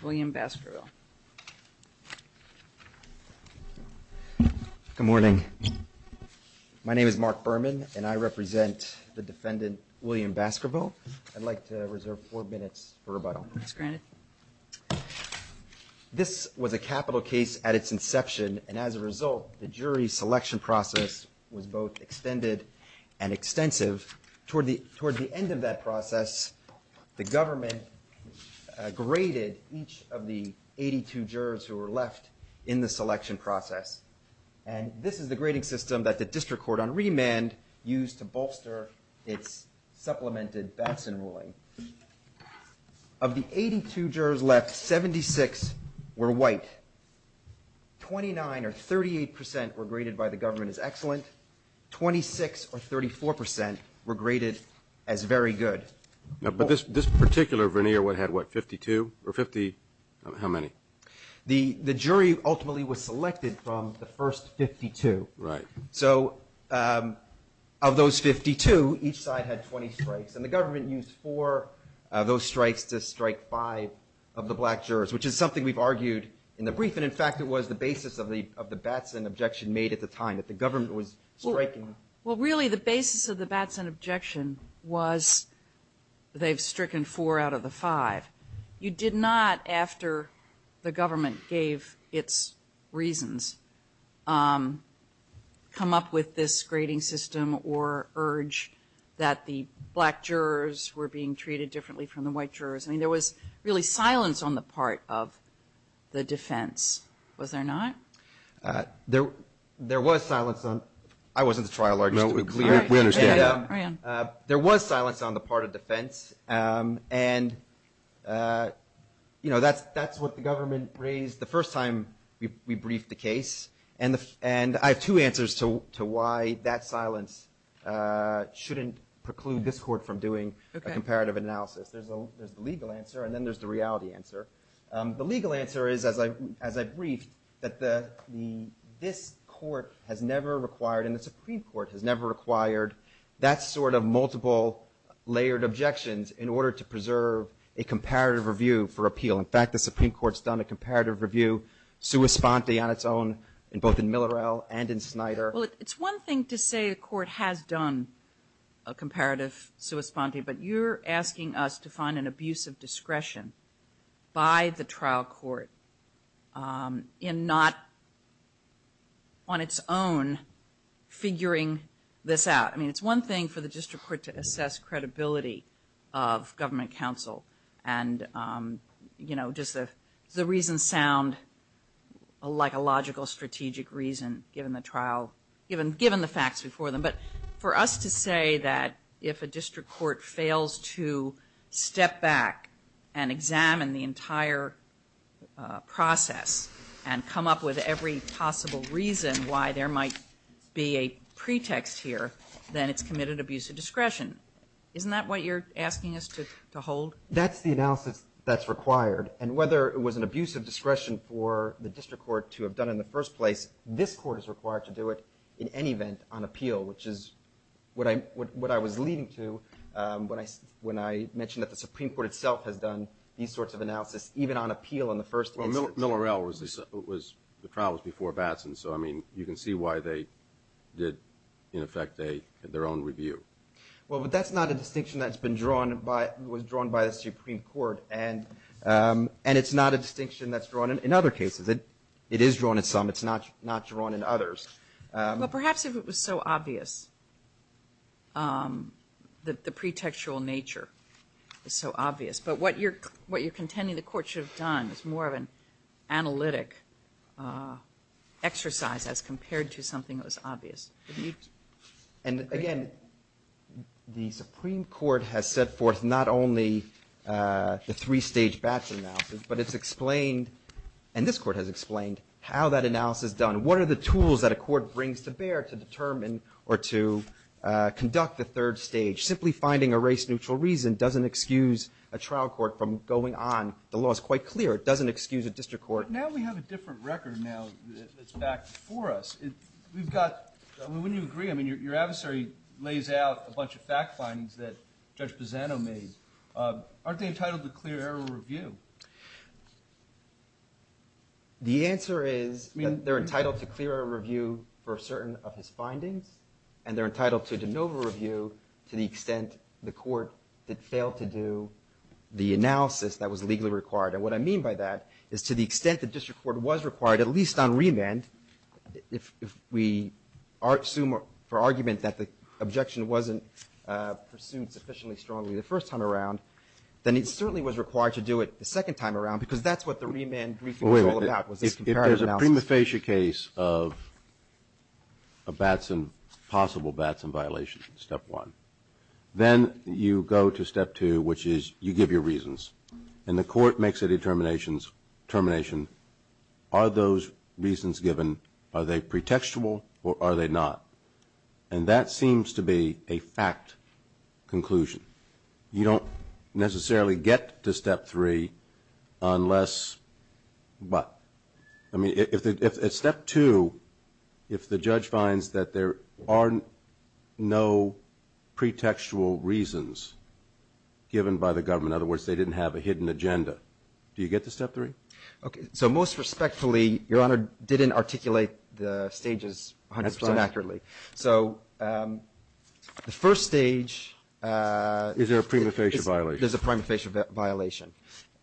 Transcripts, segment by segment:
Good morning. My name is Mark Berman and I represent the defendant William Baskerville. I'd like to reserve four minutes for rebuttal. It's granted. This was a capital case at its inception and as a result, the jury selection process was both extended and extensive. Toward the end of that process, the government graded each of the 82 jurors who were left in the selection process. And this is the grading system that the district court on remand used to bolster its supplemented Batson ruling. Of the 82 jurors left, 76 were white. 29 or 38% were graded by the government as excellent. 26 or 34% were graded as very good. But this particular veneer had what, 52 or 50, how many? The jury ultimately was selected from the first 52. So of those 52, each side had 20 strikes. And the government used four of those strikes to strike five of the black jurors, which is something we've argued in the brief. And in fact, it was the basis of the Batson objection made at the time that the government was striking. Well, really the basis of the Batson objection was they've stricken four out of the five. You did not, after the government gave its reasons, come up with this grading system or urge that the black jurors were being treated differently from the white jurors. I mean, there was really silence on the part of the defense, was there not? There was silence on, I wasn't the trial lawyer, just to be clear. There was silence on the part of defense. And that's what the government raised the first time we briefed the case. And I have two answers to why that silence shouldn't preclude this court from doing a comparative analysis. There's the legal answer and then there's the reality answer. The legal answer is, as I briefed, that this court has never required, and the Supreme Court has never required, that sort of multiple layered objections in order to preserve a comparative review for appeal. In fact, the Supreme Court's done a comparative review, sua sponte, on its own in both in Millerell and in Snyder. Well, it's one thing to say a court has done a comparative sua sponte, but you're asking us to find an abuse of discretion by the trial court in not, on its own, figuring this out. I mean, it's one thing for the district court to assess credibility of government counsel and, you know, does the reason sound like a logical strategic reason given the facts before them. But for us to say that if a district court fails to step back and examine the entire process and come up with every possible reason why there might be a pretext here, then it's committed abuse of discretion. Isn't that what you're asking us to hold? That's the analysis that's required. And whether it was an abuse of discretion for the district court to have done in the first place, this court is required to do it in any event on appeal, which is what I was leading to when I mentioned that the Supreme Court itself has done these sorts of analysis, even on appeal in the first instance. Well, Millerell, the trial was before Batson, so I mean, you can see why they did, in effect, their own review. Well, but that's not a distinction that's been drawn by, was drawn by the Supreme Court, and it's not a distinction that's drawn in other cases. It is drawn in some. It's not drawn in others. Well, perhaps if it was so obvious, the pretextual nature is so obvious. But what you're contending the court should have done is more of an analytic exercise as compared to something that was obvious. And again, the Supreme Court has set forth not only the three-stage Batson analysis, but it's explained, and this court has explained, how that analysis is done. What are the tools that a court brings to bear to determine or to conduct the third stage? Simply finding a race-neutral reason doesn't excuse a trial court from going on. The law is quite clear. It doesn't excuse a district court. Now we have a different record now that's back before us. We've got, I mean, wouldn't you agree, I mean, your adversary lays out a bunch of fact findings that Judge Pisano made. Aren't they entitled to clear error review? The answer is, I mean, they're entitled to clear error review for certain of his findings, and they're entitled to de novo review to the extent the court did fail to do the analysis that was legally required. And what I mean by that is to the extent the district court was required, at least on remand, if we assume for argument that the objection wasn't pursued sufficiently strongly the first time around, then it certainly was required to do it the second time around, because that's what the remand briefing was all about, was this comparative analysis. If there's a prima facie case of a Batson, possible Batson violation, step one, then you go to step two, which is you give your reasons, and the court makes a determination, are those reasons given, are they pretextual or are they not? And that seems to be a fact conclusion. You don't necessarily get to step three unless, but, I mean, if at step two, if the judge finds that there are no pretextual reasons given by the government, in other words, they didn't have a hidden agenda, do you get to step three? Okay, so most respectfully, Your Honor, didn't articulate the stages 100% accurately. So the first stage... Is there a prima facie violation? There's a prima facie violation.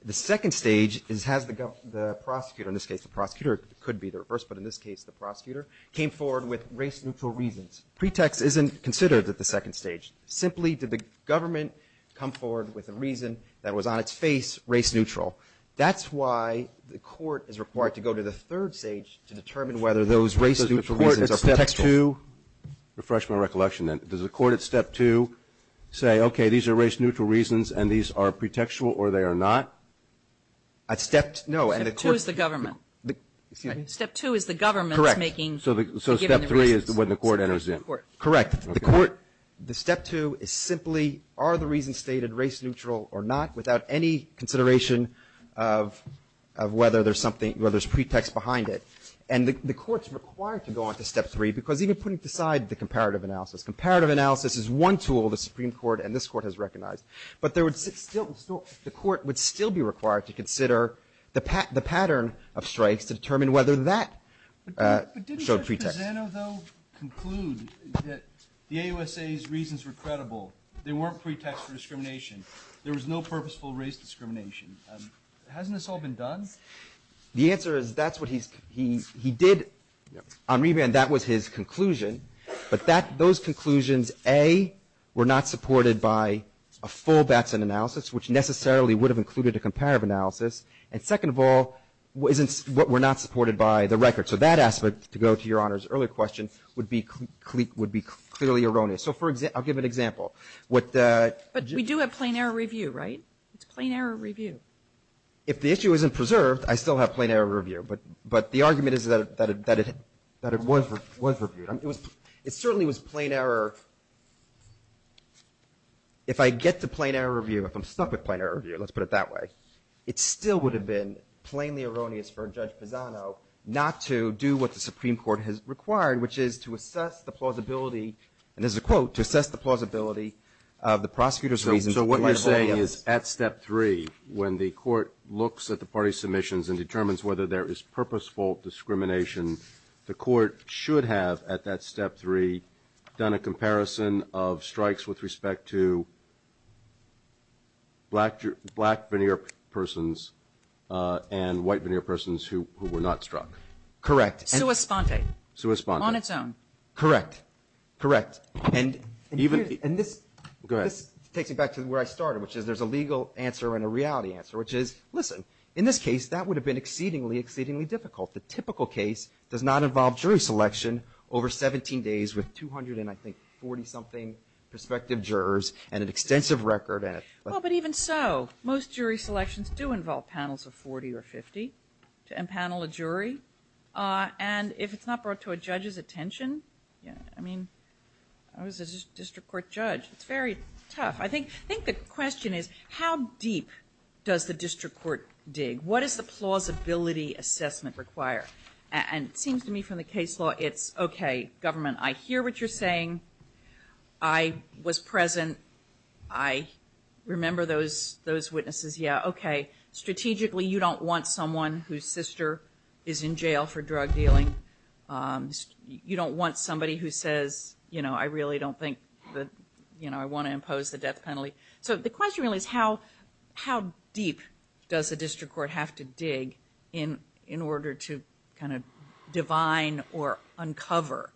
The second stage is, has the prosecutor, in this case the prosecutor could be the reverse, but in this case the prosecutor, came forward with race-neutral reasons. Pretext isn't considered at the second stage. Simply, did the government come forward with a reason that was on its face race-neutral? That's why the court is required to go to the third stage to determine whether those race-neutral reasons are pretextual. So at step two, refresh my recollection then, does the court at step two say, okay, these are race-neutral reasons and these are pretextual or they are not? At step two, no, and the court... Step two is the government. Excuse me? Step two is the government's making... Correct. ...giving the reasons. So step three is when the court enters in. Correct. The court... Okay. The step two is simply, are the reasons stated race-neutral or not, without any consideration of whether there's something, whether there's pretext behind it. And the court's required to go on to step three, because even putting aside the comparative analysis, comparative analysis is one tool the Supreme Court and this court has recognized. But the court would still be required to consider the pattern of strikes to determine whether that showed pretext. But didn't Judge Pisano though conclude that the AUSA's reasons were credible, they weren't pretext for discrimination, there was no purposeful race discrimination? Hasn't this all been done? The answer is that's what he's, he did, on reband, that was his conclusion. But that, those conclusions, A, were not supported by a full Batson analysis, which necessarily would have included a comparative analysis. And second of all, isn't, were not supported by the record. So that aspect, to go to Your Honor's earlier question, would be, would be clearly erroneous. So for example, I'll give an example. What... But we do have plain error review, right? It's plain error review. If the issue isn't preserved, I still have plain error review. But, but the argument is that it, that it, that it was, was reviewed. It was, it certainly was plain error. If I get to plain error review, if I'm stuck with plain error review, let's put it that way, it still would have been plainly erroneous for Judge Pisano not to do what the Supreme Court has required, which is to assess the plausibility, and there's a quote, to assess the plausibility of the prosecutor's reasons. So what you're saying is, at step three, when the court looks at the party submissions and determines whether there is purposeful discrimination, the court should have, at that step three, done a comparison of strikes with respect to black, black veneer persons and white veneer persons who, who were not struck. Correct. Sua sponte. Sua sponte. On its own. Correct. Correct. And even... And this... Go ahead. And this takes me back to where I started, which is there's a legal answer and a reality answer, which is, listen, in this case, that would have been exceedingly, exceedingly difficult. The typical case does not involve jury selection over 17 days with 200 and, I think, 40-something prospective jurors and an extensive record and... Well, but even so, most jury selections do involve panels of 40 or 50 to empanel a jury. And if it's not brought to a judge's attention, you know, I mean, I was a district court judge. It's very tough. I think, I think the question is, how deep does the district court dig? What does the plausibility assessment require? And it seems to me from the case law, it's, okay, government, I hear what you're saying. I was present. I remember those, those witnesses. Yeah, okay. Strategically, you don't want someone whose sister is in jail for drug dealing. You don't want somebody who says, you know, I really don't think that, you know, I want to impose the death penalty. So the question really is, how, how deep does the district court have to dig in, in order to kind of divine or uncover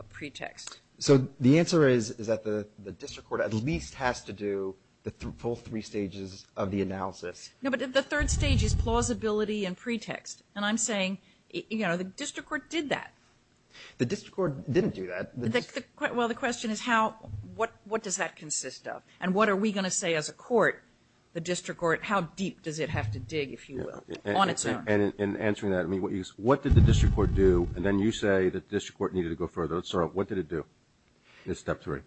a pretext? So the answer is, is that the district court at least has to do the full three stages of the analysis. No, but the third stage is plausibility and pretext. And I'm saying, you know, the district court did that. The district court didn't do that. Well, the question is, how, what, what does that consist of? And what are we going to say as a court, the district court, how deep does it have to dig, if you will, on its own? In answering that, I mean, what did the district court do? And then you say that the district court needed to go further. Let's start with, what did it do in step three?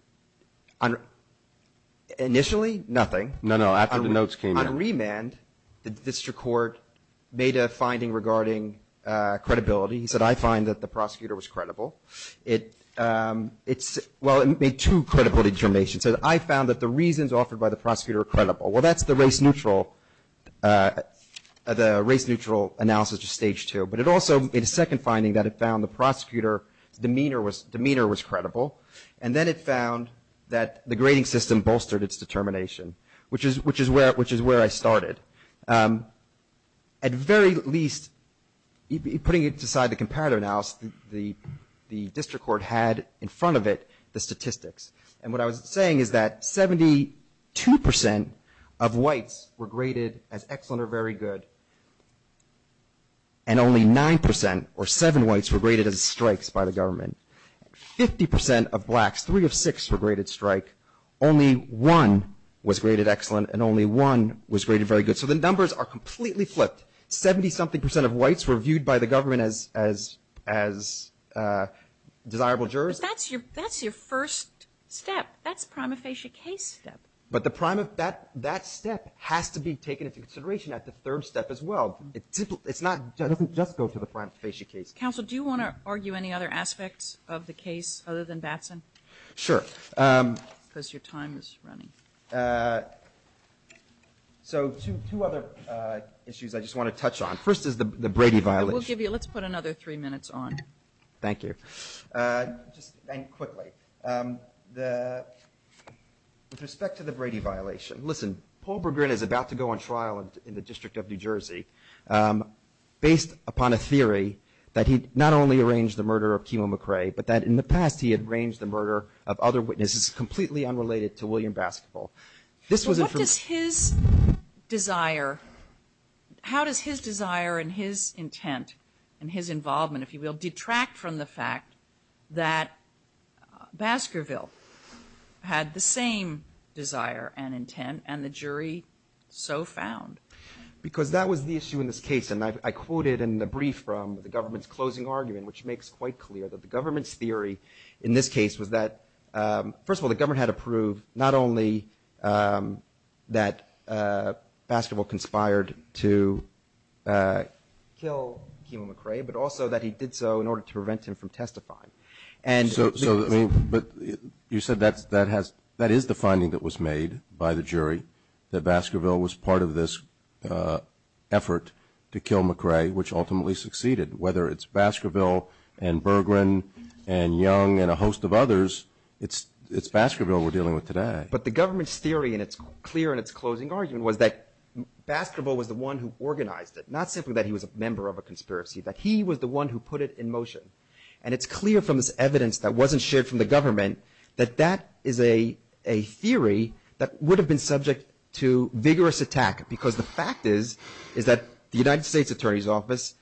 Initially nothing. No, no. After the notes came in. After remand, the district court made a finding regarding credibility. He said, I find that the prosecutor was credible. It, it's, well, it made two credible determinations. It said, I found that the reasons offered by the prosecutor are credible. Well, that's the race neutral, the race neutral analysis of stage two. But it also made a second finding that it found the prosecutor's demeanor was, demeanor was credible. And then it found that the grading system bolstered its determination, which is, which is where, which is where I started. At very least, putting it aside to comparative analysis, the, the district court had in front of it the statistics. And what I was saying is that 72 percent of whites were graded as excellent or very good, and only nine percent or seven whites were graded as strikes by the government. Fifty percent of blacks, three of six, were graded strike. Only one was graded excellent, and only one was graded very good. So the numbers are completely flipped. Seventy-something percent of whites were viewed by the government as, as, as desirable jurors. But that's your, that's your first step. That's prima facie case step. But the prime of that, that step has to be taken into consideration at the third step as well. It's simple, it's not, it doesn't just go to the prime facie case. Counsel, do you want to argue any other aspects of the case other than Batson? Sure. Because your time is running. So two, two other issues I just want to touch on. First is the, the Brady violation. We'll give you, let's put another three minutes on. Thank you. Just, and quickly, the, with respect to the Brady violation, listen, Paul Berggren is about to go on trial in the District of New Jersey based upon a theory that he not only arranged the murder of Kimo McRae, but that in the past he had arranged the murder of other witnesses, completely unrelated to William Baskerville. This was in front of- What does his desire, how does his desire and his intent and his involvement, if you will, detract from the fact that Baskerville had the same desire and intent and the jury so found? Because that was the issue in this case. And I, I quoted in the brief from the government's closing argument, which makes quite clear that the government's theory in this case was that, first of all, the government had to prove not only that Baskerville conspired to kill Kimo McRae, but also that he did so in order to prevent him from testifying. And so, so, I mean, but you said that's, that has, that is the finding that was made by the jury, that Baskerville was part of this effort to kill McRae, which ultimately succeeded, whether it's Baskerville and Berggren and Young and a host of others, it's, it's Baskerville we're dealing with today. But the government's theory, and it's clear in its closing argument, was that Baskerville was the one who organized it, not simply that he was a member of a conspiracy, that he was the one who put it in motion. And it's clear from this evidence that wasn't shared from the government that that is a, a theory that would have been subject to vigorous attack, because the fact is, is that the United States Attorney's Office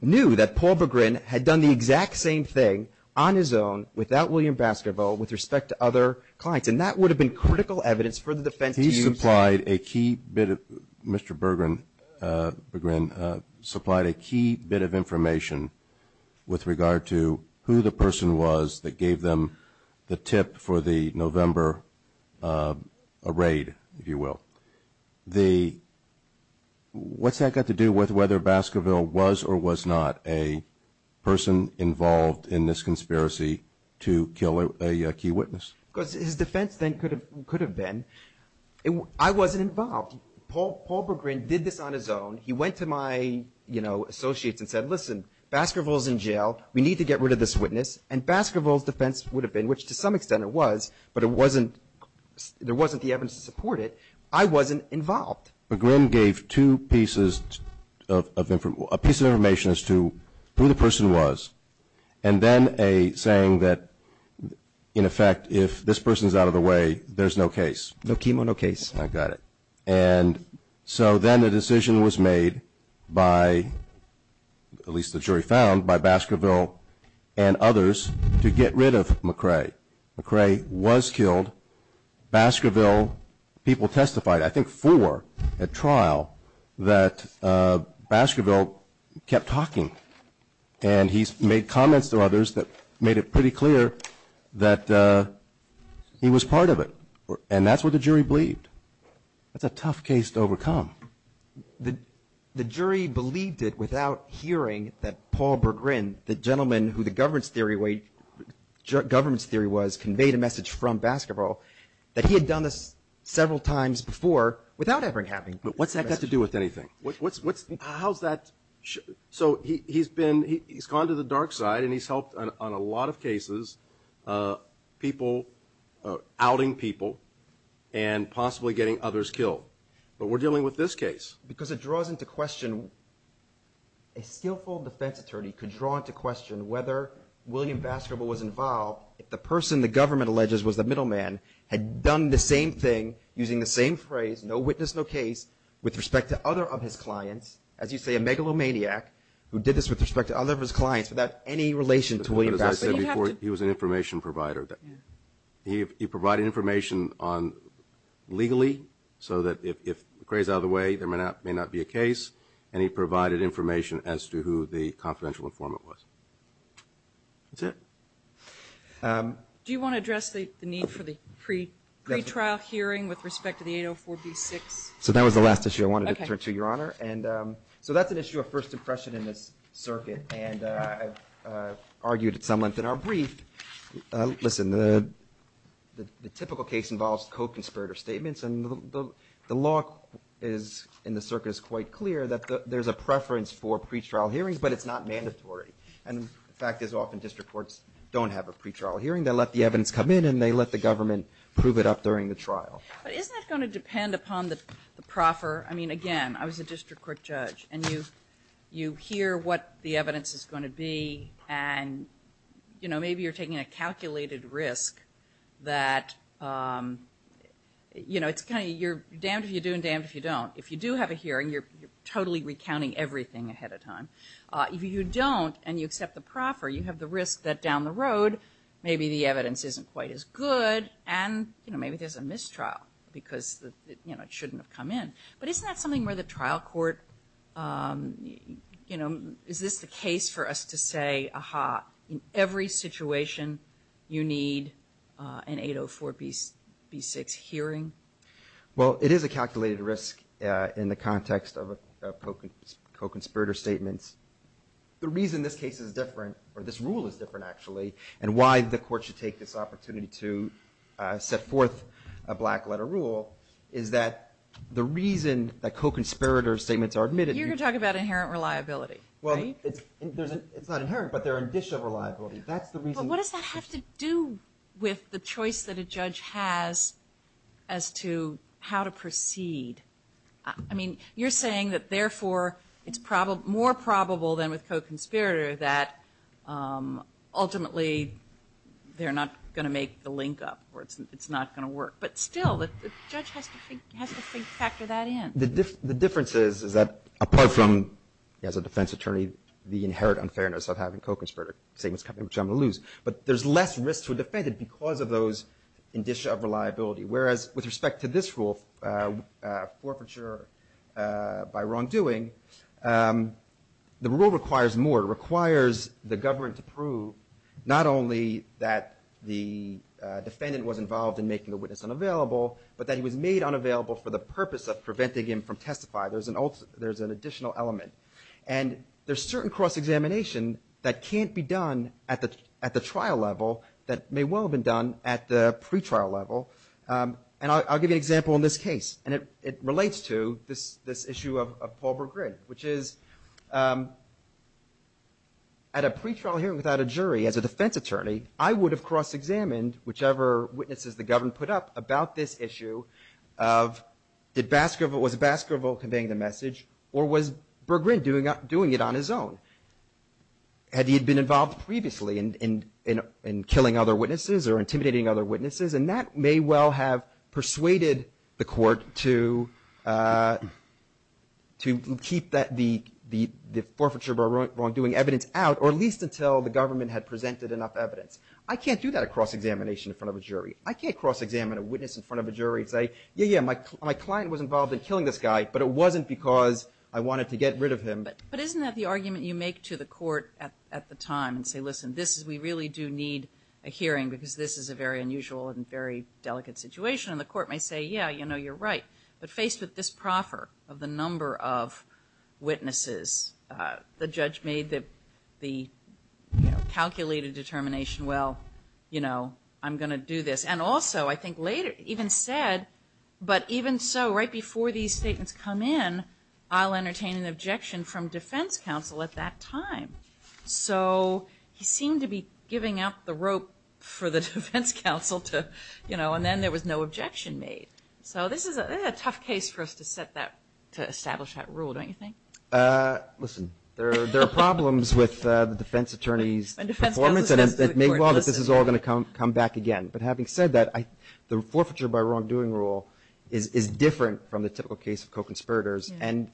knew that Paul Berggren had done the exact same thing on his own, without William Baskerville, with respect to other clients. And that would have been critical evidence for the defense to use. He supplied a key bit of, Mr. Berggren, Berggren supplied a key bit of information with regard to who the person was that gave them the tip for the November, a raid, if you will. The what's that got to do with whether Baskerville was or was not a person involved in this conspiracy to kill a, a key witness? Because his defense then could have, could have been, I wasn't involved. Paul, Paul Berggren did this on his own. He went to my, you know, associates and said, listen, Baskerville's in jail. We need to get rid of this witness. And Baskerville's defense would have been, which to some extent it was, but it wasn't, there wasn't the evidence to support it. I wasn't involved. Berggren gave two pieces of, of, a piece of information as to who the person was. And then a saying that in effect, if this person's out of the way, there's no case. No chemo, no case. I got it. And so then the decision was made by, at least the jury found, by Baskerville and others to get rid of McCrae. McCrae was killed. Baskerville, people testified, I think four at trial, that Baskerville kept talking and he's made comments to others that made it pretty clear that he was part of it. And that's what the jury believed. The jury believed it without hearing that Paul Berggren, the gentleman who the government's theory, government's theory was conveyed a message from Baskerville, that he had done this several times before without ever having. What's that got to do with anything? What's, what's, how's that? So he's been, he's gone to the dark side and he's helped on a lot of cases, people, outing people and possibly getting others killed. But we're dealing with this case. Because it draws into question, a skillful defense attorney could draw into question whether William Baskerville was involved if the person the government alleges was the middleman had done the same thing using the same phrase, no witness, no case, with respect to other of his clients. As you say, a megalomaniac who did this with respect to other of his clients without any relation to William Baskerville. But as I said before, he was an information provider. He provided information on, legally, so that if Gray's out of the way, there may not be a case. And he provided information as to who the confidential informant was. That's it. Do you want to address the need for the pre-trial hearing with respect to the 804B6? So that was the last issue I wanted to turn to, Your Honor. And so that's an issue of first impression in this circuit. And I've argued at some length in our brief, listen, the typical case involves co-conspirator statements. And the law is, in the circuit, is quite clear that there's a preference for pre-trial hearings, but it's not mandatory. And the fact is, often district courts don't have a pre-trial hearing. They let the evidence come in, and they let the government prove it up during the trial. But isn't that going to depend upon the proffer? I mean, again, I was a district court judge. And you hear what the evidence is going to be, and, you know, maybe you're taking a calculated risk that, you know, it's kind of you're damned if you do and damned if you don't. If you do have a hearing, you're totally recounting everything ahead of time. If you don't and you accept the proffer, you have the risk that down the road, maybe the evidence isn't quite as good, and, you know, maybe there's a mistrial because, you know, it shouldn't have come in. But isn't that something where the trial court, you know, is this the case for us to say, aha, in every situation, you need an 804 B6 hearing? Well, it is a calculated risk in the context of a co-conspirator statement. The reason this case is different, or this rule is different, actually, and why the court should take this opportunity to set forth a black letter rule, is that the reason that co-conspirator statements are admitted... You're going to talk about inherent reliability, right? It's not inherent, but they're a dish of reliability. That's the reason... But what does that have to do with the choice that a judge has as to how to proceed? I mean, you're saying that, therefore, it's more probable than with co-conspirator that, ultimately, they're not going to make the link up, or it's not going to work. But still, the judge has to factor that in. The difference is that, apart from, as a defense attorney, the inherent unfairness of having co-conspirator statements, which I'm going to lose, but there's less risk to a defendant because of those in dish of reliability. Whereas, with respect to this rule, forfeiture by wrongdoing, the rule requires more. It requires the government to prove not only that the defendant was involved in making the witness unavailable, but that he was made unavailable for the purpose of getting him from testify. There's an additional element. And there's certain cross-examination that can't be done at the trial level that may well have been done at the pre-trial level. And I'll give you an example in this case, and it relates to this issue of Paul Berggren, which is, at a pre-trial hearing without a jury, as a defense attorney, I would have cross-examined whichever witnesses the government put up about this issue of, did Baskerville convey the message, or was Berggren doing it on his own? Had he been involved previously in killing other witnesses or intimidating other witnesses? And that may well have persuaded the court to keep the forfeiture by wrongdoing evidence out, or at least until the government had presented enough evidence. I can't do that at cross-examination in front of a jury. I can't cross-examine a witness in front of a jury and say, yeah, yeah, my client was killing this guy, but it wasn't because I wanted to get rid of him. But isn't that the argument you make to the court at the time, and say, listen, this is we really do need a hearing because this is a very unusual and very delicate situation? And the court may say, yeah, you know, you're right. But faced with this proffer of the number of witnesses, the judge made the calculated determination, well, you know, I'm going to let these statements come in. I'll entertain an objection from defense counsel at that time. So he seemed to be giving out the rope for the defense counsel to, you know, and then there was no objection made. So this is a tough case for us to set that, to establish that rule, don't you think? Listen, there are problems with the defense attorney's performance, and it may well that this is all going to come back again. But having said that, the forfeiture by wrongdoing rule is different from the typical case of co-conspirators, and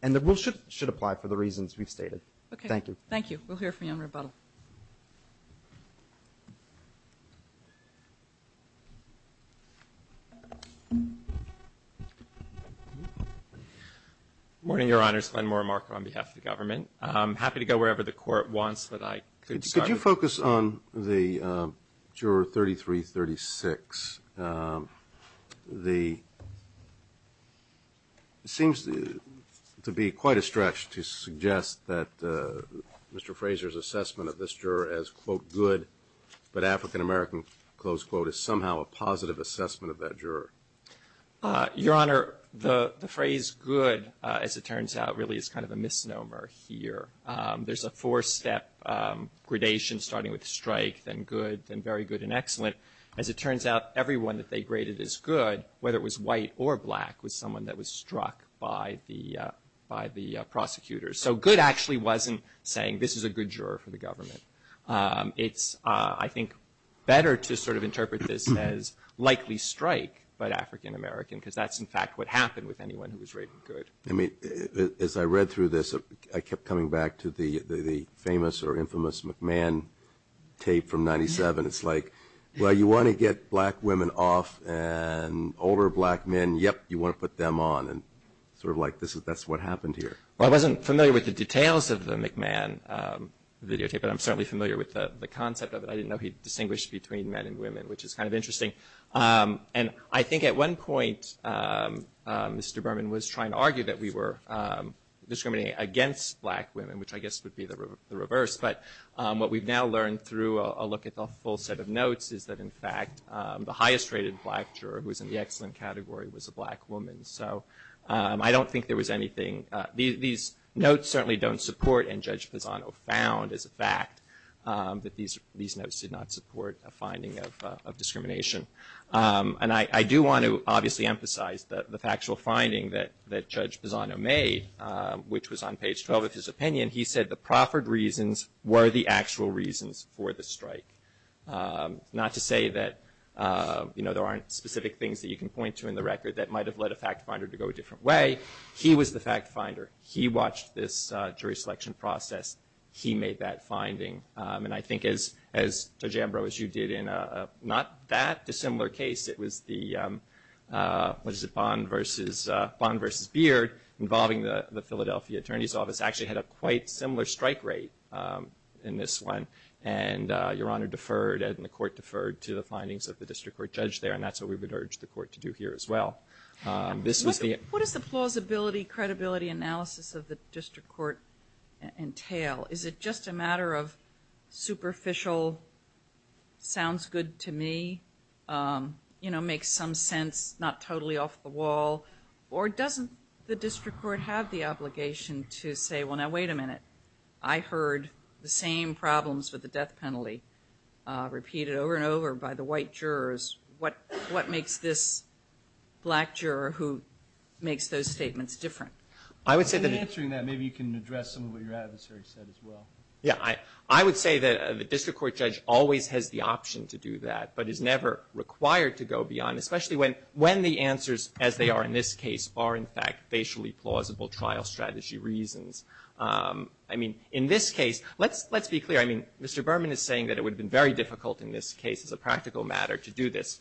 the rule should apply for the reasons we've stated. Thank you. Okay. Thank you. We'll hear from you on rebuttal. Good morning, Your Honors. Glen Moore, Marker, on behalf of the government. I'm happy to go wherever the court wants, but I could start with you. The seems to be quite a stretch to suggest that Mr. Fraser's assessment of this juror as, quote, good, but African-American, close quote, is somehow a positive assessment of that juror. Your Honor, the phrase good, as it turns out, really is kind of a misnomer here. There's a four-step gradation starting with strike, then good, then very good and excellent. As it turns out, everyone that they graded as good, whether it was white or black, was someone that was struck by the prosecutor. So good actually wasn't saying this is a good juror for the government. It's, I think, better to sort of interpret this as likely strike but African-American, because that's, in fact, what happened with anyone who was rated good. I mean, as I read through this, I kept coming back to the famous or infamous McMahon tape from 97. It's like, well, you want to get black women off and older black men, yep, you want to put them on. And sort of like that's what happened here. Well, I wasn't familiar with the details of the McMahon videotape, but I'm certainly familiar with the concept of it. I didn't know he distinguished between men and women, which is kind of interesting. And I think at one point, Mr. Berman was trying to argue that we were discriminating against black women, which I guess would be the reverse. But what we've now learned through a look at the full set of notes is that, in fact, the highest rated black juror, who was in the excellent category, was a black woman. So I don't think there was anything. These notes certainly don't support, and Judge Pisano found as a fact, that these notes did not support a finding of discrimination. And I do want to obviously emphasize the factual finding that Judge Pisano made, which was on page 12 of his opinion. He said the proffered reasons were the actual reasons for the strike. Not to say that there aren't specific things that you can point to in the record that might have led a fact finder to go a different way. He was the fact finder. He watched this jury selection process. He made that finding. And I think as Judge Ambrose, you did in not that dissimilar case. It was the, what is jury's office actually had a quite similar strike rate in this one. And Your Honor deferred and the court deferred to the findings of the district court judge there. And that's what we would urge the court to do here as well. This was the- What is the plausibility, credibility analysis of the district court entail? Is it just a matter of superficial, sounds good to me, makes some sense, not totally off the wall? Or doesn't the district court have the obligation to say, well now wait a minute, I heard the same problems with the death penalty repeated over and over by the white jurors. What makes this black juror who makes those statements different? I would say that- In answering that, maybe you can address some of what your adversary said as well. I would say that the district court judge always has the option to do that, but is never required to go beyond, especially when the answers as they are in this case are in fact facially plausible trial strategy reasons. I mean, in this case, let's be clear. I mean, Mr. Berman is saying that it would have been very difficult in this case as a practical matter to do this.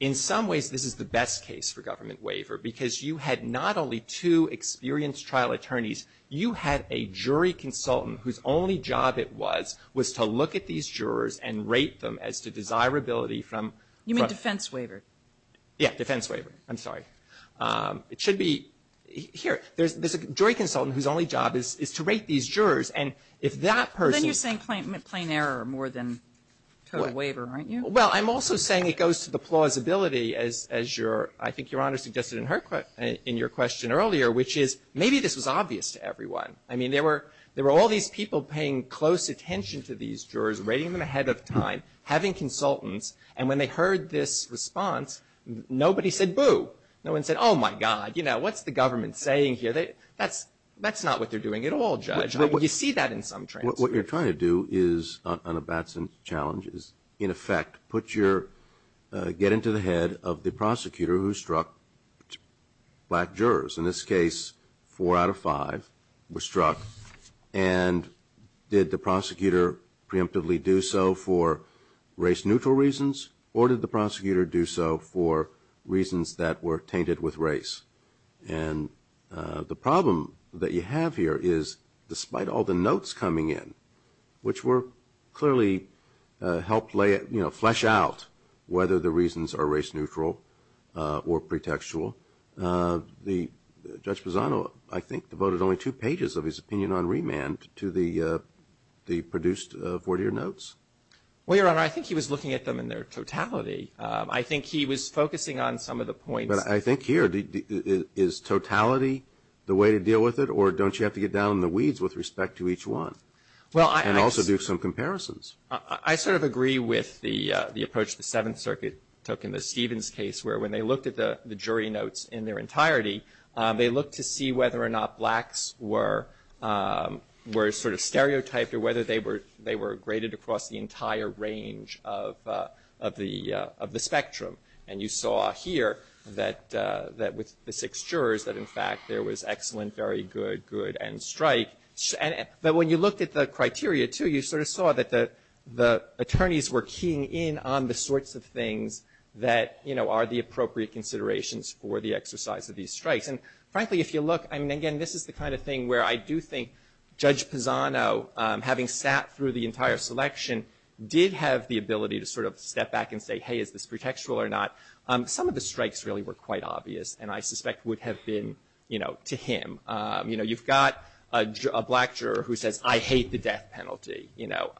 In some ways, this is the best case for government waiver because you had not only two experienced trial attorneys, you had a jury consultant whose only job it was, was to look at these jurors and rate them as to desirability from- You mean defense waiver? Yeah, defense waiver. I'm sorry. It should be here. There's a jury consultant whose only job is to rate these jurors, and if that person- Then you're saying plain error more than total waiver, aren't you? Well, I'm also saying it goes to the plausibility as your, I think Your Honor suggested in her, in your question earlier, which is maybe this was obvious to everyone. I mean, there were all these people paying close attention to these jurors, rating them ahead of time, having consultants, and when they heard this response, nobody said, boo. No one said, oh my God, you know, what's the government saying here? That's not what they're doing at all, Judge. You see that in some transcripts. What you're trying to do is, on a Batson challenge, is in effect put your, get into the head of the prosecutor who struck black jurors. In this case, four out of five were struck, and did the prosecutor preemptively do so for race-neutral reasons, or did the prosecutor do so for reasons that were tainted with race? And the problem that you have here is, despite all the notes coming in, which were clearly, helped lay it, you know, flesh out whether the reasons are race-neutral or pretextual, the, Judge Bozzano, I think, devoted only two pages of his opinion on remand to the produced 40-year notes. Well, Your Honor, I think he was looking at them in their totality. I think he was focusing on some of the points. But I think here, is totality the way to deal with it, or don't you have to get down in the weeds with respect to each one, and also do some comparisons? I sort of agree with the approach the Seventh Circuit took in the Stevens case, where when they looked at the jury notes in their entirety, they looked to see whether or not blacks were sort of stereotyped, or whether they were graded across the entire range of the spectrum. And you saw here that with the six jurors, that in fact, there was excellent, very good good, and strike. But when you looked at the criteria, too, you sort of saw that the attorneys were keying in on the sorts of things that, you know, are the appropriate considerations for the exercise of these strikes. And frankly, if you look, I mean, again, this is the kind of thing where I do think Judge Bozzano, having sat through the entire selection, did have the ability to sort of step back and say, hey, is this pretextual or not? Some of the strikes really were quite obvious, and I suspect would have been, you know, to him. You know, you've got a black juror who says, I hate the death penalty, you know.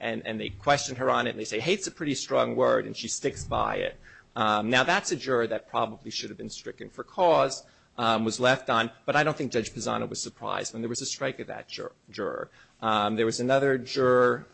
And they question her on it, and they say, hey, it's a pretty strong word, and she sticks by it. Now that's a juror that probably should have been stricken for cause, was left on. But I don't think Judge Bozzano was surprised when there was a strike of that juror. There was another juror,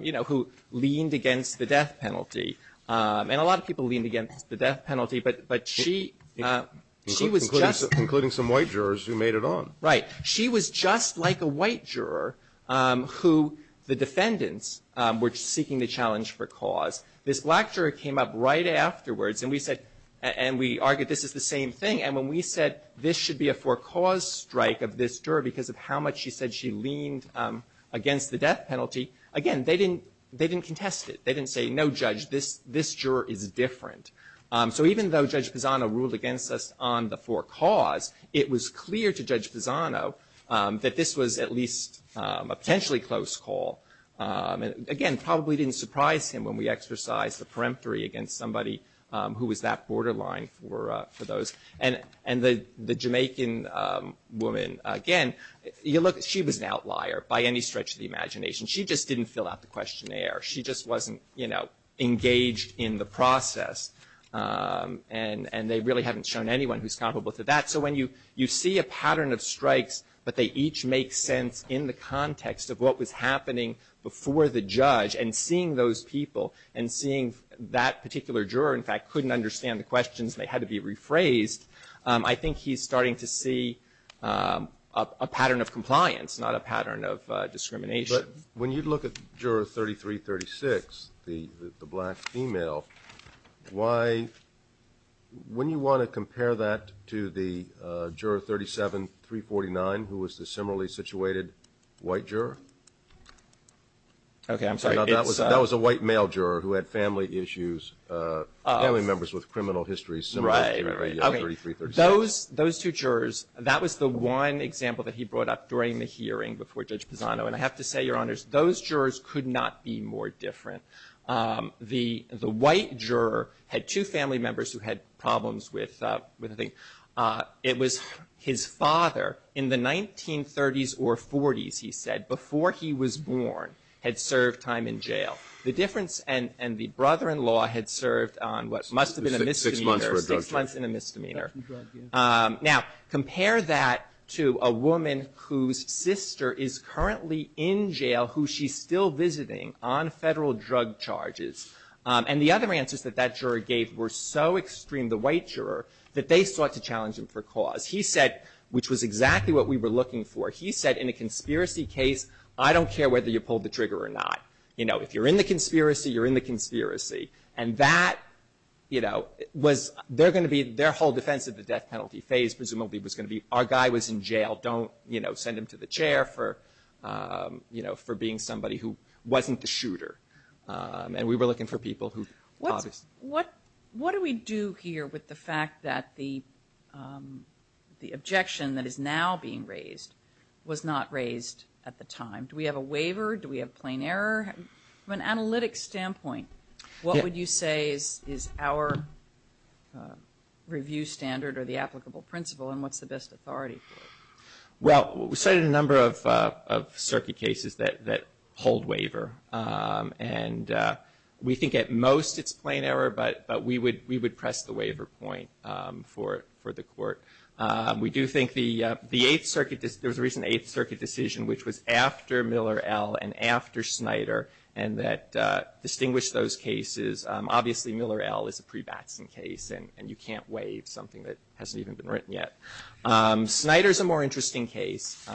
you know, who leaned against the death penalty. And a lot of people leaned against the death penalty, but she was just Including some white jurors who made it on. Right. She was just like a white juror who the defendants were seeking the challenge for cause. This black juror came up right afterwards, and we said, and we argued this is the same thing. And when we said this should be a for cause strike of this juror because of how much she said she leaned against the death penalty, again, they didn't contest it. They didn't say, no, Judge, this juror is different. So even though Judge Bozzano ruled against us on the for cause, it was clear to Judge Bozzano that this was at least a potentially close call. Again, probably didn't surprise him when we exercised the peremptory against somebody who was that borderline for those. And the Jamaican woman, again, she was an outlier by any stretch of the imagination. She just didn't fill out the questionnaire. She just wasn't engaged in the process. And they really haven't shown anyone who's comparable to that. So when you see a pattern of strikes, but they each make sense in the context of what was happening before the judge, and seeing those people, and seeing that particular juror, in fact, couldn't understand the questions and they had to be rephrased, I think he's starting to see a pattern of compliance, not a pattern of discrimination. When you look at juror 3336, the black female, why, wouldn't you want to compare that to the juror 37349, who was the similarly situated white juror? Okay, I'm sorry, it's a... That was a white male juror who had family issues, family members with criminal histories similar to 3336. Those two jurors, that was the one example that he brought up during the hearing before Judge Pisano. And I have to say, Your Honors, those jurors could not be more different. The white juror had two family members who had problems with, I think, it was his father, in the 1930s or 40s, he said, before he was born, had served time in jail. The difference and the brother-in-law had served on what must have been a misdemeanor, six months in misdemeanor. Now compare that to a woman whose sister is currently in jail, who she's still visiting on federal drug charges. And the other answers that that juror gave were so extreme, the white juror, that they sought to challenge him for cause. He said, which was exactly what we were looking for, he said, in a conspiracy case, I don't care whether you pulled the trigger or not. If you're in the conspiracy, you're in the conspiracy. And that, you know, was, they're going to be, their whole defense of the death penalty phase presumably was going to be, our guy was in jail, don't, you know, send him to the chair for, you know, for being somebody who wasn't the shooter. And we were looking for people who, obviously. What do we do here with the fact that the objection that is now being raised was not what we were looking for? What would you say is our review standard or the applicable principle and what's the best authority for it? Well, we cited a number of circuit cases that hold waiver. And we think at most it's plain error, but we would press the waiver point for the court. We do think the Eighth Circuit, there was a recent Eighth Circuit decision, which was after Miller L. and after those cases. Obviously, Miller L. is a pre-Batson case, and you can't waive something that hasn't even been written yet. Snyder's a more interesting case.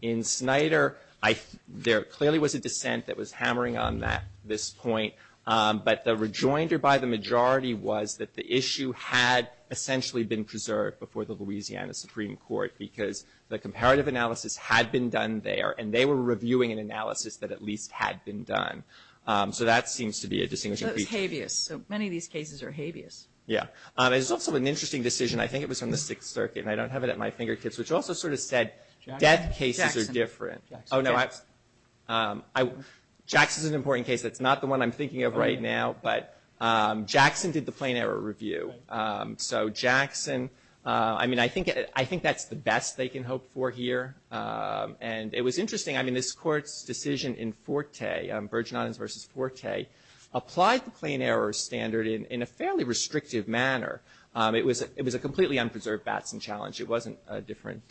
In Snyder, I, there clearly was a dissent that was hammering on that, this point. But the rejoinder by the majority was that the issue had essentially been preserved before the Louisiana Supreme Court, because the comparative analysis had been done there, and they were reviewing an analysis that at least had been done. So that seems to be a distinguishing feature. So it was habeas. So many of these cases are habeas. Yeah. It was also an interesting decision. I think it was from the Sixth Circuit, and I don't have it at my fingertips, which also sort of said death cases are different. Jackson. Oh, no. Jackson's an important case. That's not the one I'm thinking of right now. But Jackson did the plain error review. So Jackson, I mean, I think that's the best they can hope for here. And it was interesting. I mean, this Court's decision in Forte, Virgin Islands versus Forte, applied the plain error standard in a fairly restrictive manner. It was a completely unpreserved Batson challenge. It wasn't different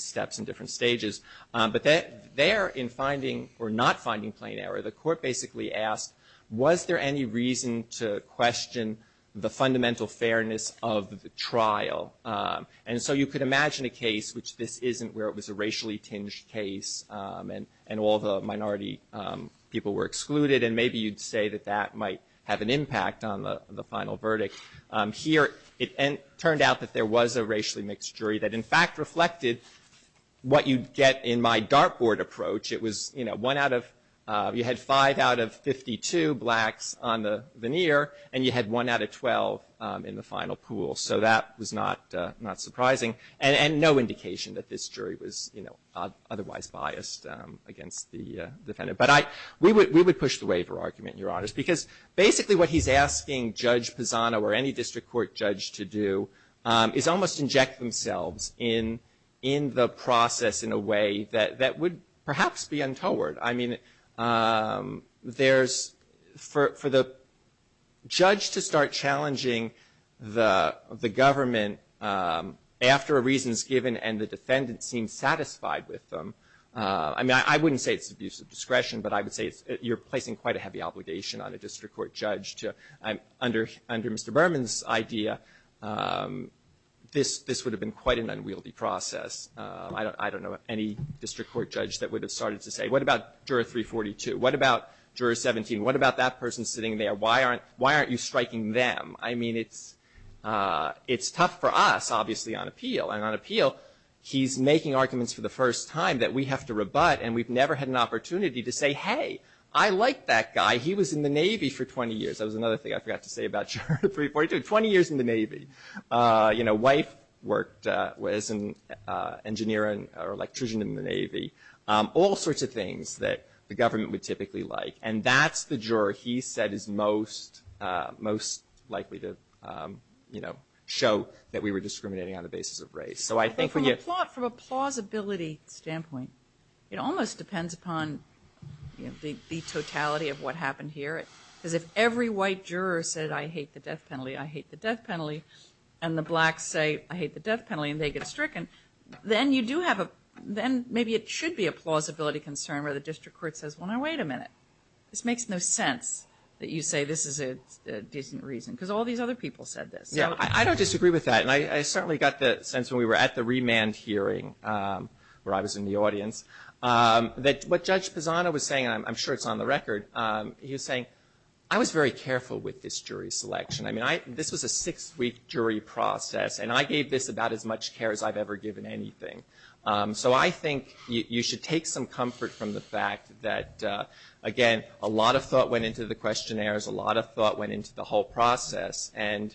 steps and different stages. But there, in finding or not finding plain error, the Court basically asked, was there any reason to question the fundamental fairness of the trial? And so you could imagine a case which this isn't, where it was a racially tinged case, and all the minority people were excluded, and maybe you'd say that that might have an impact on the final verdict. Here, it turned out that there was a racially mixed jury that, in fact, reflected what you'd get in my dartboard approach. It was, you know, one out of – you had five out of 52 blacks on the veneer, and you had one out of 12 in the final pool. So that was not surprising, and no indication that this jury was, you know, otherwise biased against the defendant. But we would push the waiver argument, Your Honors, because basically what he's asking Judge Pisano or any district court judge to do is almost inject themselves in the process in a way that would perhaps be untoward. I mean, there's – for the judge to start challenging the government after a reason is given and the defendant seems satisfied with them. I mean, I wouldn't say it's abuse of discretion, but I would say you're placing quite a heavy obligation on a district court judge to – under Mr. Berman's idea, this would have been quite an unwieldy process. I don't know of any district court judge that would have started to say, what about juror 342? What about juror 17? What about that person sitting there? Why aren't you striking them? I mean, it's tough for us, obviously, on appeal. And on appeal, he's making arguments for the first time that we have to rebut and we've never had an opportunity to say, hey, I like that guy. He was in the Navy for 20 years. That was another thing I forgot to say about juror 342. Twenty years in the Navy. You know, wife worked as an engineer or electrician in the Navy. All sorts of things that the government would typically like. And that's the juror he said is most – most likely to, you know, show that we were discriminating on the basis of race. So I think – But from a – from a plausibility standpoint, it almost depends upon, you know, the totality of what happened here. Because if every white juror said, I hate the death penalty, I hate the death penalty, and the blacks say, I hate the death penalty, and they get stricken, then you do have a – then maybe it should be a plausibility concern where the district court says, well, now, wait a minute. This makes no sense that you say this is a decent reason. Because all these other people said this. Yeah. I don't disagree with that. And I certainly got the sense when we were at the remand hearing where I was in the audience that what Judge Pisano was saying – and I'm sure it's on the record – he was saying, I was very careful with this jury selection. I mean, I – this was a six-week jury process. And I gave this about as much care as I've ever given anything. So I think you should take some comfort from the fact that, again, a lot of thought went into the questionnaires. A lot of thought went into the whole process. And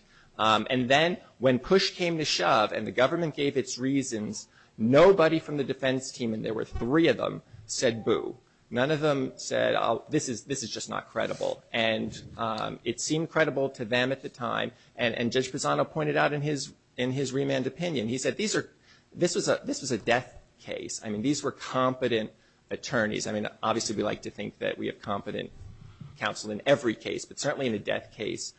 then when push came to shove and the government gave its reasons, nobody from the defense team – and there were three of them – said, boo. None of them said, this is – this is just not credible. And it seemed credible to them at the time. And Judge Pisano pointed out in his – in his remand opinion, he said, these are – this was a – this was a death case. I mean, these were competent attorneys. I mean, obviously we like to think that we have competent counsel in every case. But certainly in a death case,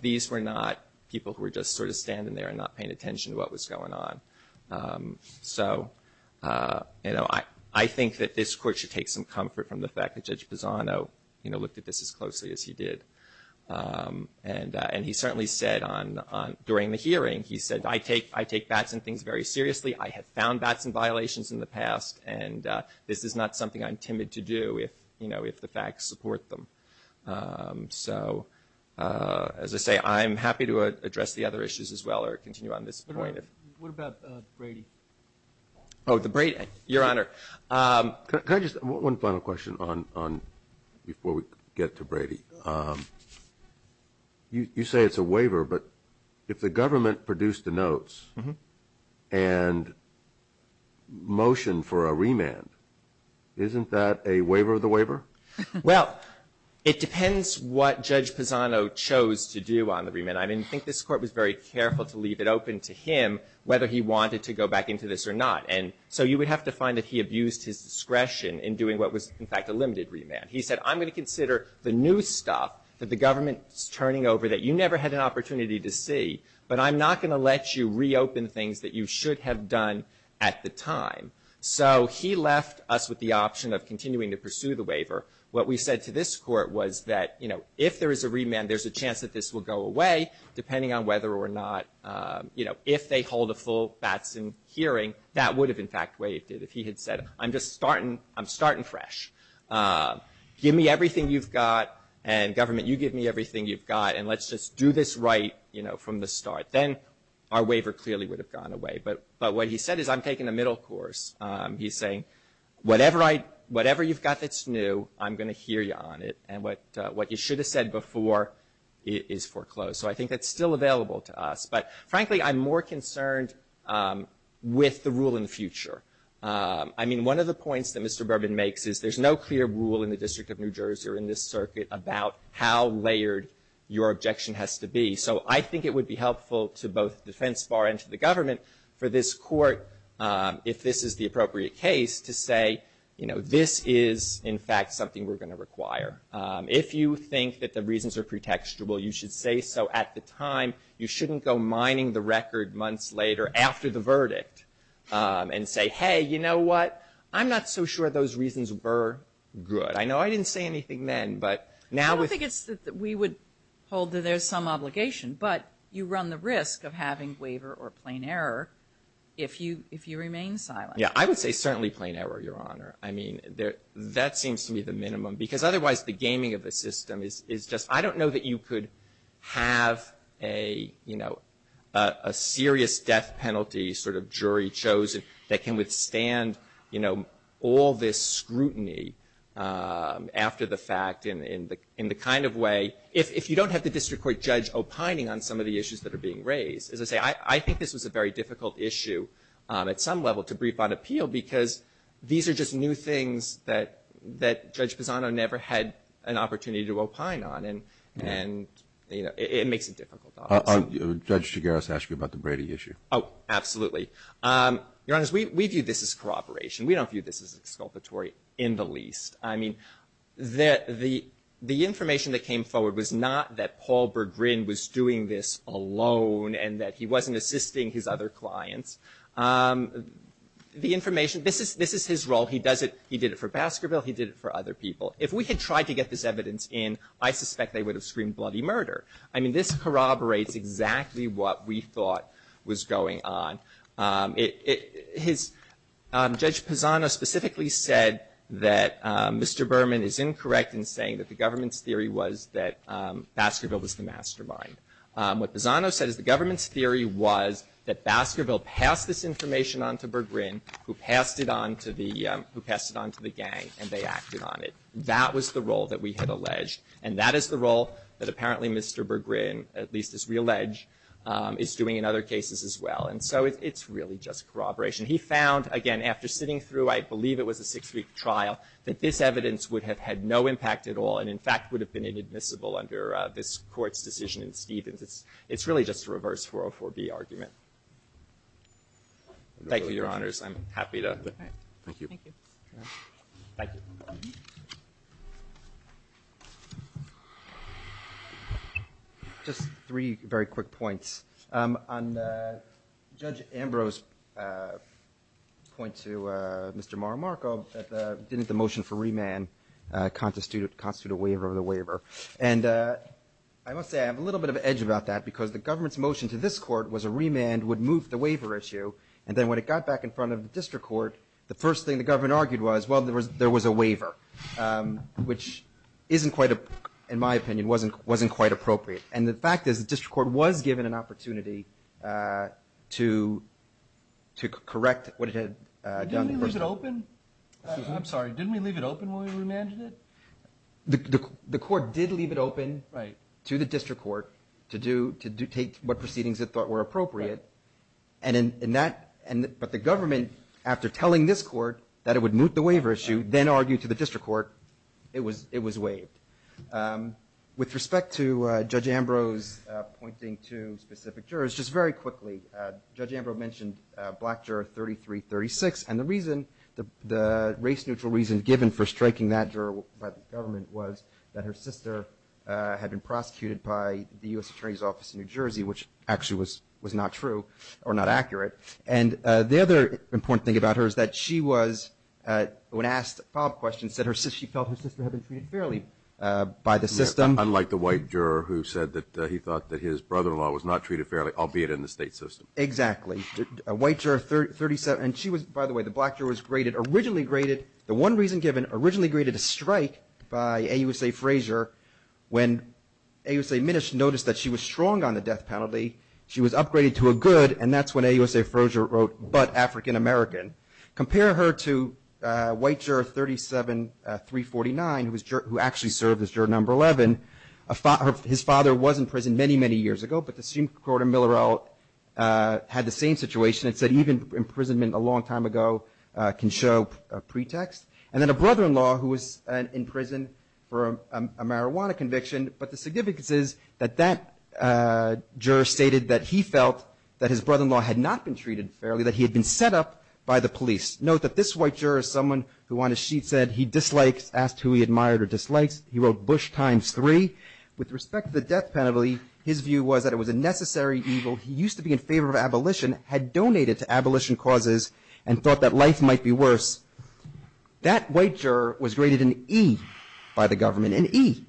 these were not people who were just sort of standing there and not paying attention to what was going on. So I think that this court should take some comfort from the fact that Judge Pisano looked at this as closely as he did. And he certainly said on – during the hearing, he said, I take – I take Batson things very seriously. I have found Batson violations in the past. And this is not something I'm timid to do if, you know, if the facts support them. So as I say, I'm happy to address the other issues as well or continue on this point if – What about Brady? Oh, the Brady. Your Honor. Can I just – one final question on – before we get to Brady. You say it's a waiver, but if the government produced the notes and motioned for a remand, isn't that a waiver of the waiver? Well, it depends what Judge Pisano chose to do on the remand. I mean, I think this court was very careful to leave it open to him whether he wanted to go back into this or not. And so you would have to find that he abused his discretion in doing what was, in fact, a limited remand. He said, I'm going to consider the new stuff that the government is turning over that you never had an opportunity to see, but I'm not going to let you reopen things that you should have done at the time. So he left us with the option of continuing to pursue the waiver. What we said to this court was that, you know, if there is a remand, there's a chance that this will go away depending on whether or not, you know, if they hold a full Batson hearing, that would have, in fact, waived it if he had said, I'm just starting fresh. Give me everything you've got and government, you give me everything you've got and let's just do this right, you know, from the start. Then our waiver clearly would have gone away. But what he said is, I'm taking the middle course. He's saying, whatever you've got that's new, I'm going to hear you on it. And what you should have said before is foreclosed. So I think that's still available to us. But frankly, I'm more concerned with the rule in the future. I mean, one of the points that Mr. Bourbon makes is there's no clear rule in the District of New Jersey or in this circuit about how layered your objection has to be. So I think it would be helpful to both the defense bar and to the government for this court, if this is the appropriate case, to say, you know, this is, in fact, something we're going to require. If you think that the reasons are pretextual, you should say so at the time. You shouldn't go mining the record months later after the verdict and say, hey, you know what? I'm not so sure those reasons were good. I know I didn't say anything then, but now with- I don't think it's that we would hold that there's some obligation, but you run the risk of having waiver or plain error if you remain silent. Yeah, I would say certainly plain error, Your Honor. I mean, that seems to be the minimum because otherwise the gaming of the system is just- I don't know that you could have a, you know, a serious death penalty sort of jury chosen that can withstand, you know, all this scrutiny after the fact in the kind of way- if you don't have the district court judge opining on some of the issues that are being raised. As I say, I think this was a very difficult issue at some level to brief on appeal because these are just new things that Judge Pisano never had an opportunity to opine on and, you know, it makes it difficult. Judge Chigares asked you about the Brady issue. Oh, absolutely. Your Honor, we view this as corroboration. We don't view this as exculpatory in the least. I mean, the information that came forward was not that Paul Berggrin was doing this alone and that he wasn't assisting his other clients. The information- this is his role. He does it- he did it for Baskerville. He did it for other people. If we had tried to get this evidence in, I suspect they would have screamed bloody murder. I mean, this corroborates exactly what we thought was going on. It- his- Judge Pisano specifically said that Mr. Berman is incorrect in saying that the government's theory was that Baskerville was the mastermind. What Pisano said is the government's theory was that Baskerville passed this information on to Berggrin, who passed it on to the- who passed it on to the gang, and they acted on it. That was the role that we had alleged, and that is the role that apparently Mr. Berggrin, at least as we allege, is doing in other cases as well. And so it's really just corroboration. He found, again, after sitting through, I believe it was a six-week trial, that this evidence would have had no impact at all and in fact would have been inadmissible under this Court's decision in Stevens. It's really just a reverse 404B argument. Thank you, Your Honors. I'm happy to- All right. Thank you. Thank you. Just three very quick points. On Judge Ambrose's point to Mr. Maramarco that the- didn't the motion for remand constitute a waiver of the waiver. And I must say, I have a little bit of an edge about that, because the government's motion to this Court was a remand would move the waiver issue, and then when it got back in front of the District Court, the first thing the government argued was, well, there was a waiver, which isn't quite a- in my opinion, wasn't quite appropriate. And the fact is, the District Court was given an opportunity to correct what it had done in the first- Didn't we leave it open? I'm sorry. Didn't we leave it open when we remanded it? The Court did leave it open to the District Court to do- to take what proceedings it thought were appropriate. And in that- but the government, after telling this Court that it would move the waiver issue, then argued to the District Court, it was waived. With respect to Judge Ambrose pointing to specific jurors, just very quickly, Judge Ambrose mentioned black juror 3336, and the reason- the race neutral reason given for black juror 3336 by the government was that her sister had been prosecuted by the U.S. Attorney's Office in New Jersey, which actually was not true, or not accurate. And the other important thing about her is that she was- when asked a follow-up question, said her sister- she felt her sister had been treated fairly by the system. Unlike the white juror who said that he thought that his brother-in-law was not treated fairly, albeit in the state system. Exactly. White juror 3- and she was- by the way, the black juror was graded- originally graded- the one reason given, originally graded a strike by AUSA Frazier when AUSA Minish noticed that she was strong on the death penalty. She was upgraded to a good, and that's when AUSA Frazier wrote, but African American. Compare her to white juror 37349, who actually served as juror number 11. His father was in prison many, many years ago, but the Supreme Court of Millerell had the same situation. It said even imprisonment a long time ago can show a pretext. And then a brother-in-law who was in prison for a marijuana conviction, but the significance is that that juror stated that he felt that his brother-in-law had not been treated fairly, that he had been set up by the police. Note that this white juror is someone who on his sheet said he dislikes- asked who he admired or dislikes. He wrote Bush times 3. With respect to the death penalty, his view was that it was a necessary evil. He used to be in favor of abolition, had donated to abolition causes, and thought that life might be worse. That white juror was graded an E by the government, an E,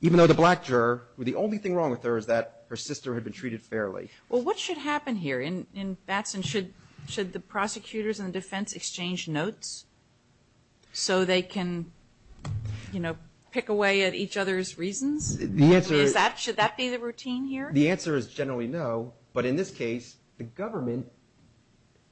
even though the black juror, the only thing wrong with her is that her sister had been treated fairly. Well, what should happen here? In Batson, should the prosecutors and the defense exchange notes so they can, you know, pick away at each other's reasons? The answer is- Is that- should that be the routine here? The answer is generally no, but in this case, the government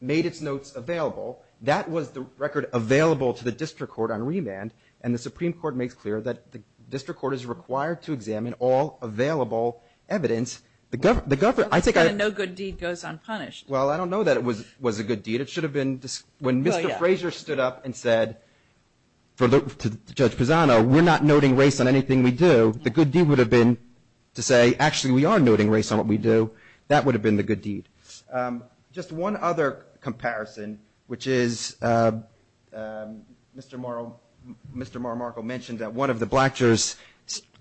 made its notes available. That was the record available to the district court on remand, and the Supreme Court makes clear that the district court is required to examine all available evidence. The government- I think I- No good deed goes unpunished. Well, I don't know that it was a good deed. It should have been when Mr. Fraser stood up and said to Judge Pisano, we're not noting race on anything we do, the good deed would have been to say, actually, we are noting race on what we do. That would have been the good deed. Just one other comparison, which is Mr. Morrow- Mr. Morrow-Markle mentioned that one of the black jurors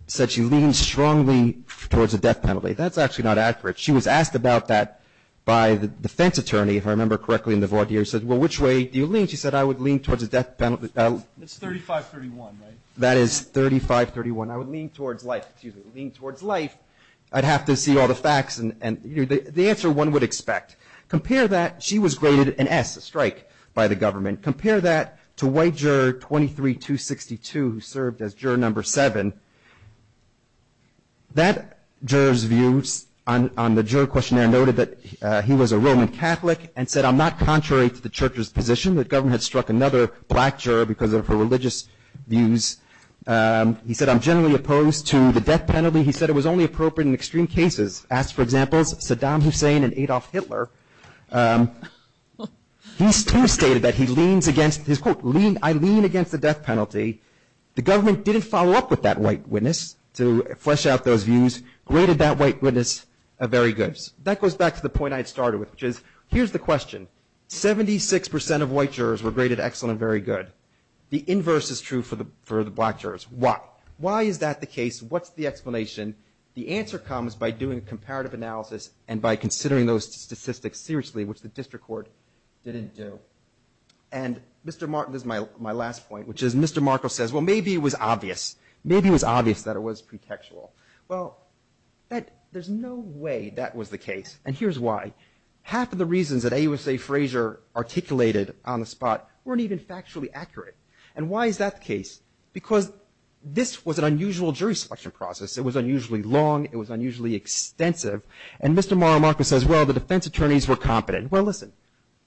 said she leaned strongly towards a death penalty. That's actually not accurate. She was asked about that by the defense attorney, if I remember correctly, in the voir dire. She said, well, which way do you lean? She said, I would lean towards a death penalty- It's 35-31, right? That is 35-31. I would lean towards life. I'd have to see all the facts, and the answer one would expect. Compare that- she was graded an S, a strike, by the government. Compare that to white juror 23-262, who served as juror number seven. That juror's views on the juror questionnaire noted that he was a Roman Catholic and said, I'm not contrary to the church's position that the government had struck another black juror because of her religious views. He said, I'm generally opposed to the death penalty. He said, it was only appropriate in extreme cases. Asked for examples, Saddam Hussein and Adolf Hitler. He too stated that he leans against- his quote, I lean against the death penalty. The government didn't follow up with that white witness to flesh out those views, graded that white witness a very good. That goes back to the point I had started with, which is, here's the question. 76 percent of white jurors were graded excellent and very good. The inverse is true for the black jurors. Why? Why is that the case? What's the explanation? The answer comes by doing comparative analysis and by considering those statistics seriously, which the district court didn't do. And Mr. Mark- this is my last point, which is, Mr. Markle says, well, maybe it was obvious. Maybe it was obvious that it was pretextual. Well, that- there's no way that was the case, and here's why. Half of the reasons that AUSA Frazier articulated on the spot weren't even factually accurate. And why is that the case? Because this was an unusual jury selection process. It was unusually long. It was unusually extensive. And Mr. Markle says, well, the defense attorneys were competent. Well, listen,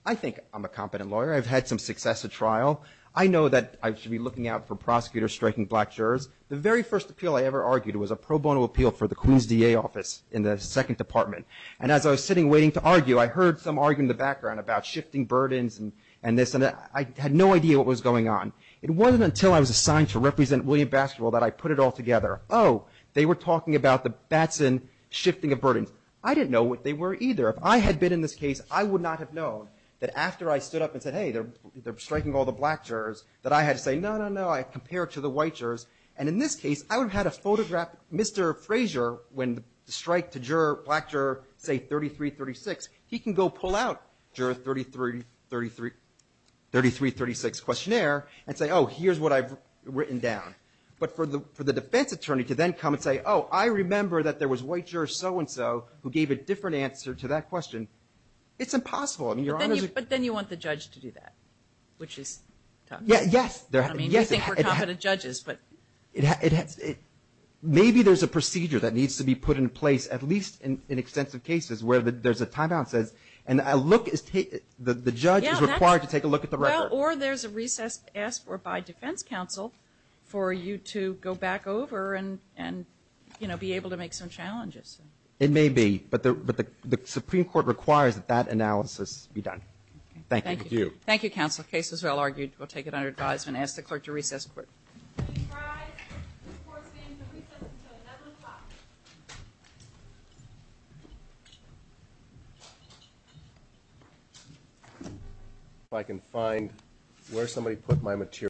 I think I'm a competent lawyer. I've had some success at trial. I know that I should be looking out for prosecutors striking black jurors. The very first appeal I ever argued was a pro bono appeal for the Queens DA office in the second department. And as I was sitting waiting to argue, I heard some arguing in the background about shifting burdens and this, and I had no idea what was going on. It wasn't until I was assigned to represent William Baskerville that I put it all together. Oh, they were talking about the Batson shifting of burdens. I didn't know what they were either. If I had been in this case, I would not have known that after I stood up and said, hey, they're striking all the black jurors, that I had to say, no, no, no, I compared to the white jurors. And in this case, I would have had to photograph Mr. Frazier when the strike to black juror, say, 3336. He can go pull out juror 3336 questionnaire and say, oh, here's what I've written down. But for the defense attorney to then come and say, oh, I remember that there was white juror so-and-so who gave a different answer to that question, it's impossible. I mean, you're on as a- But then you want the judge to do that, which is tough. Yeah, yes. I mean, you think we're competent judges, but- Maybe there's a procedure that needs to be put in place, at least in extensive cases where there's a timeout says, and the judge is required to take a look at the record. Or there's a recess asked for by defense counsel for you to go back over and, you know, be able to make some challenges. It may be, but the Supreme Court requires that that analysis be done. Thank you. Thank you, counsel. The case is well argued. We'll take it under advisement and ask the clerk to recess the court. If I can find where somebody put my material.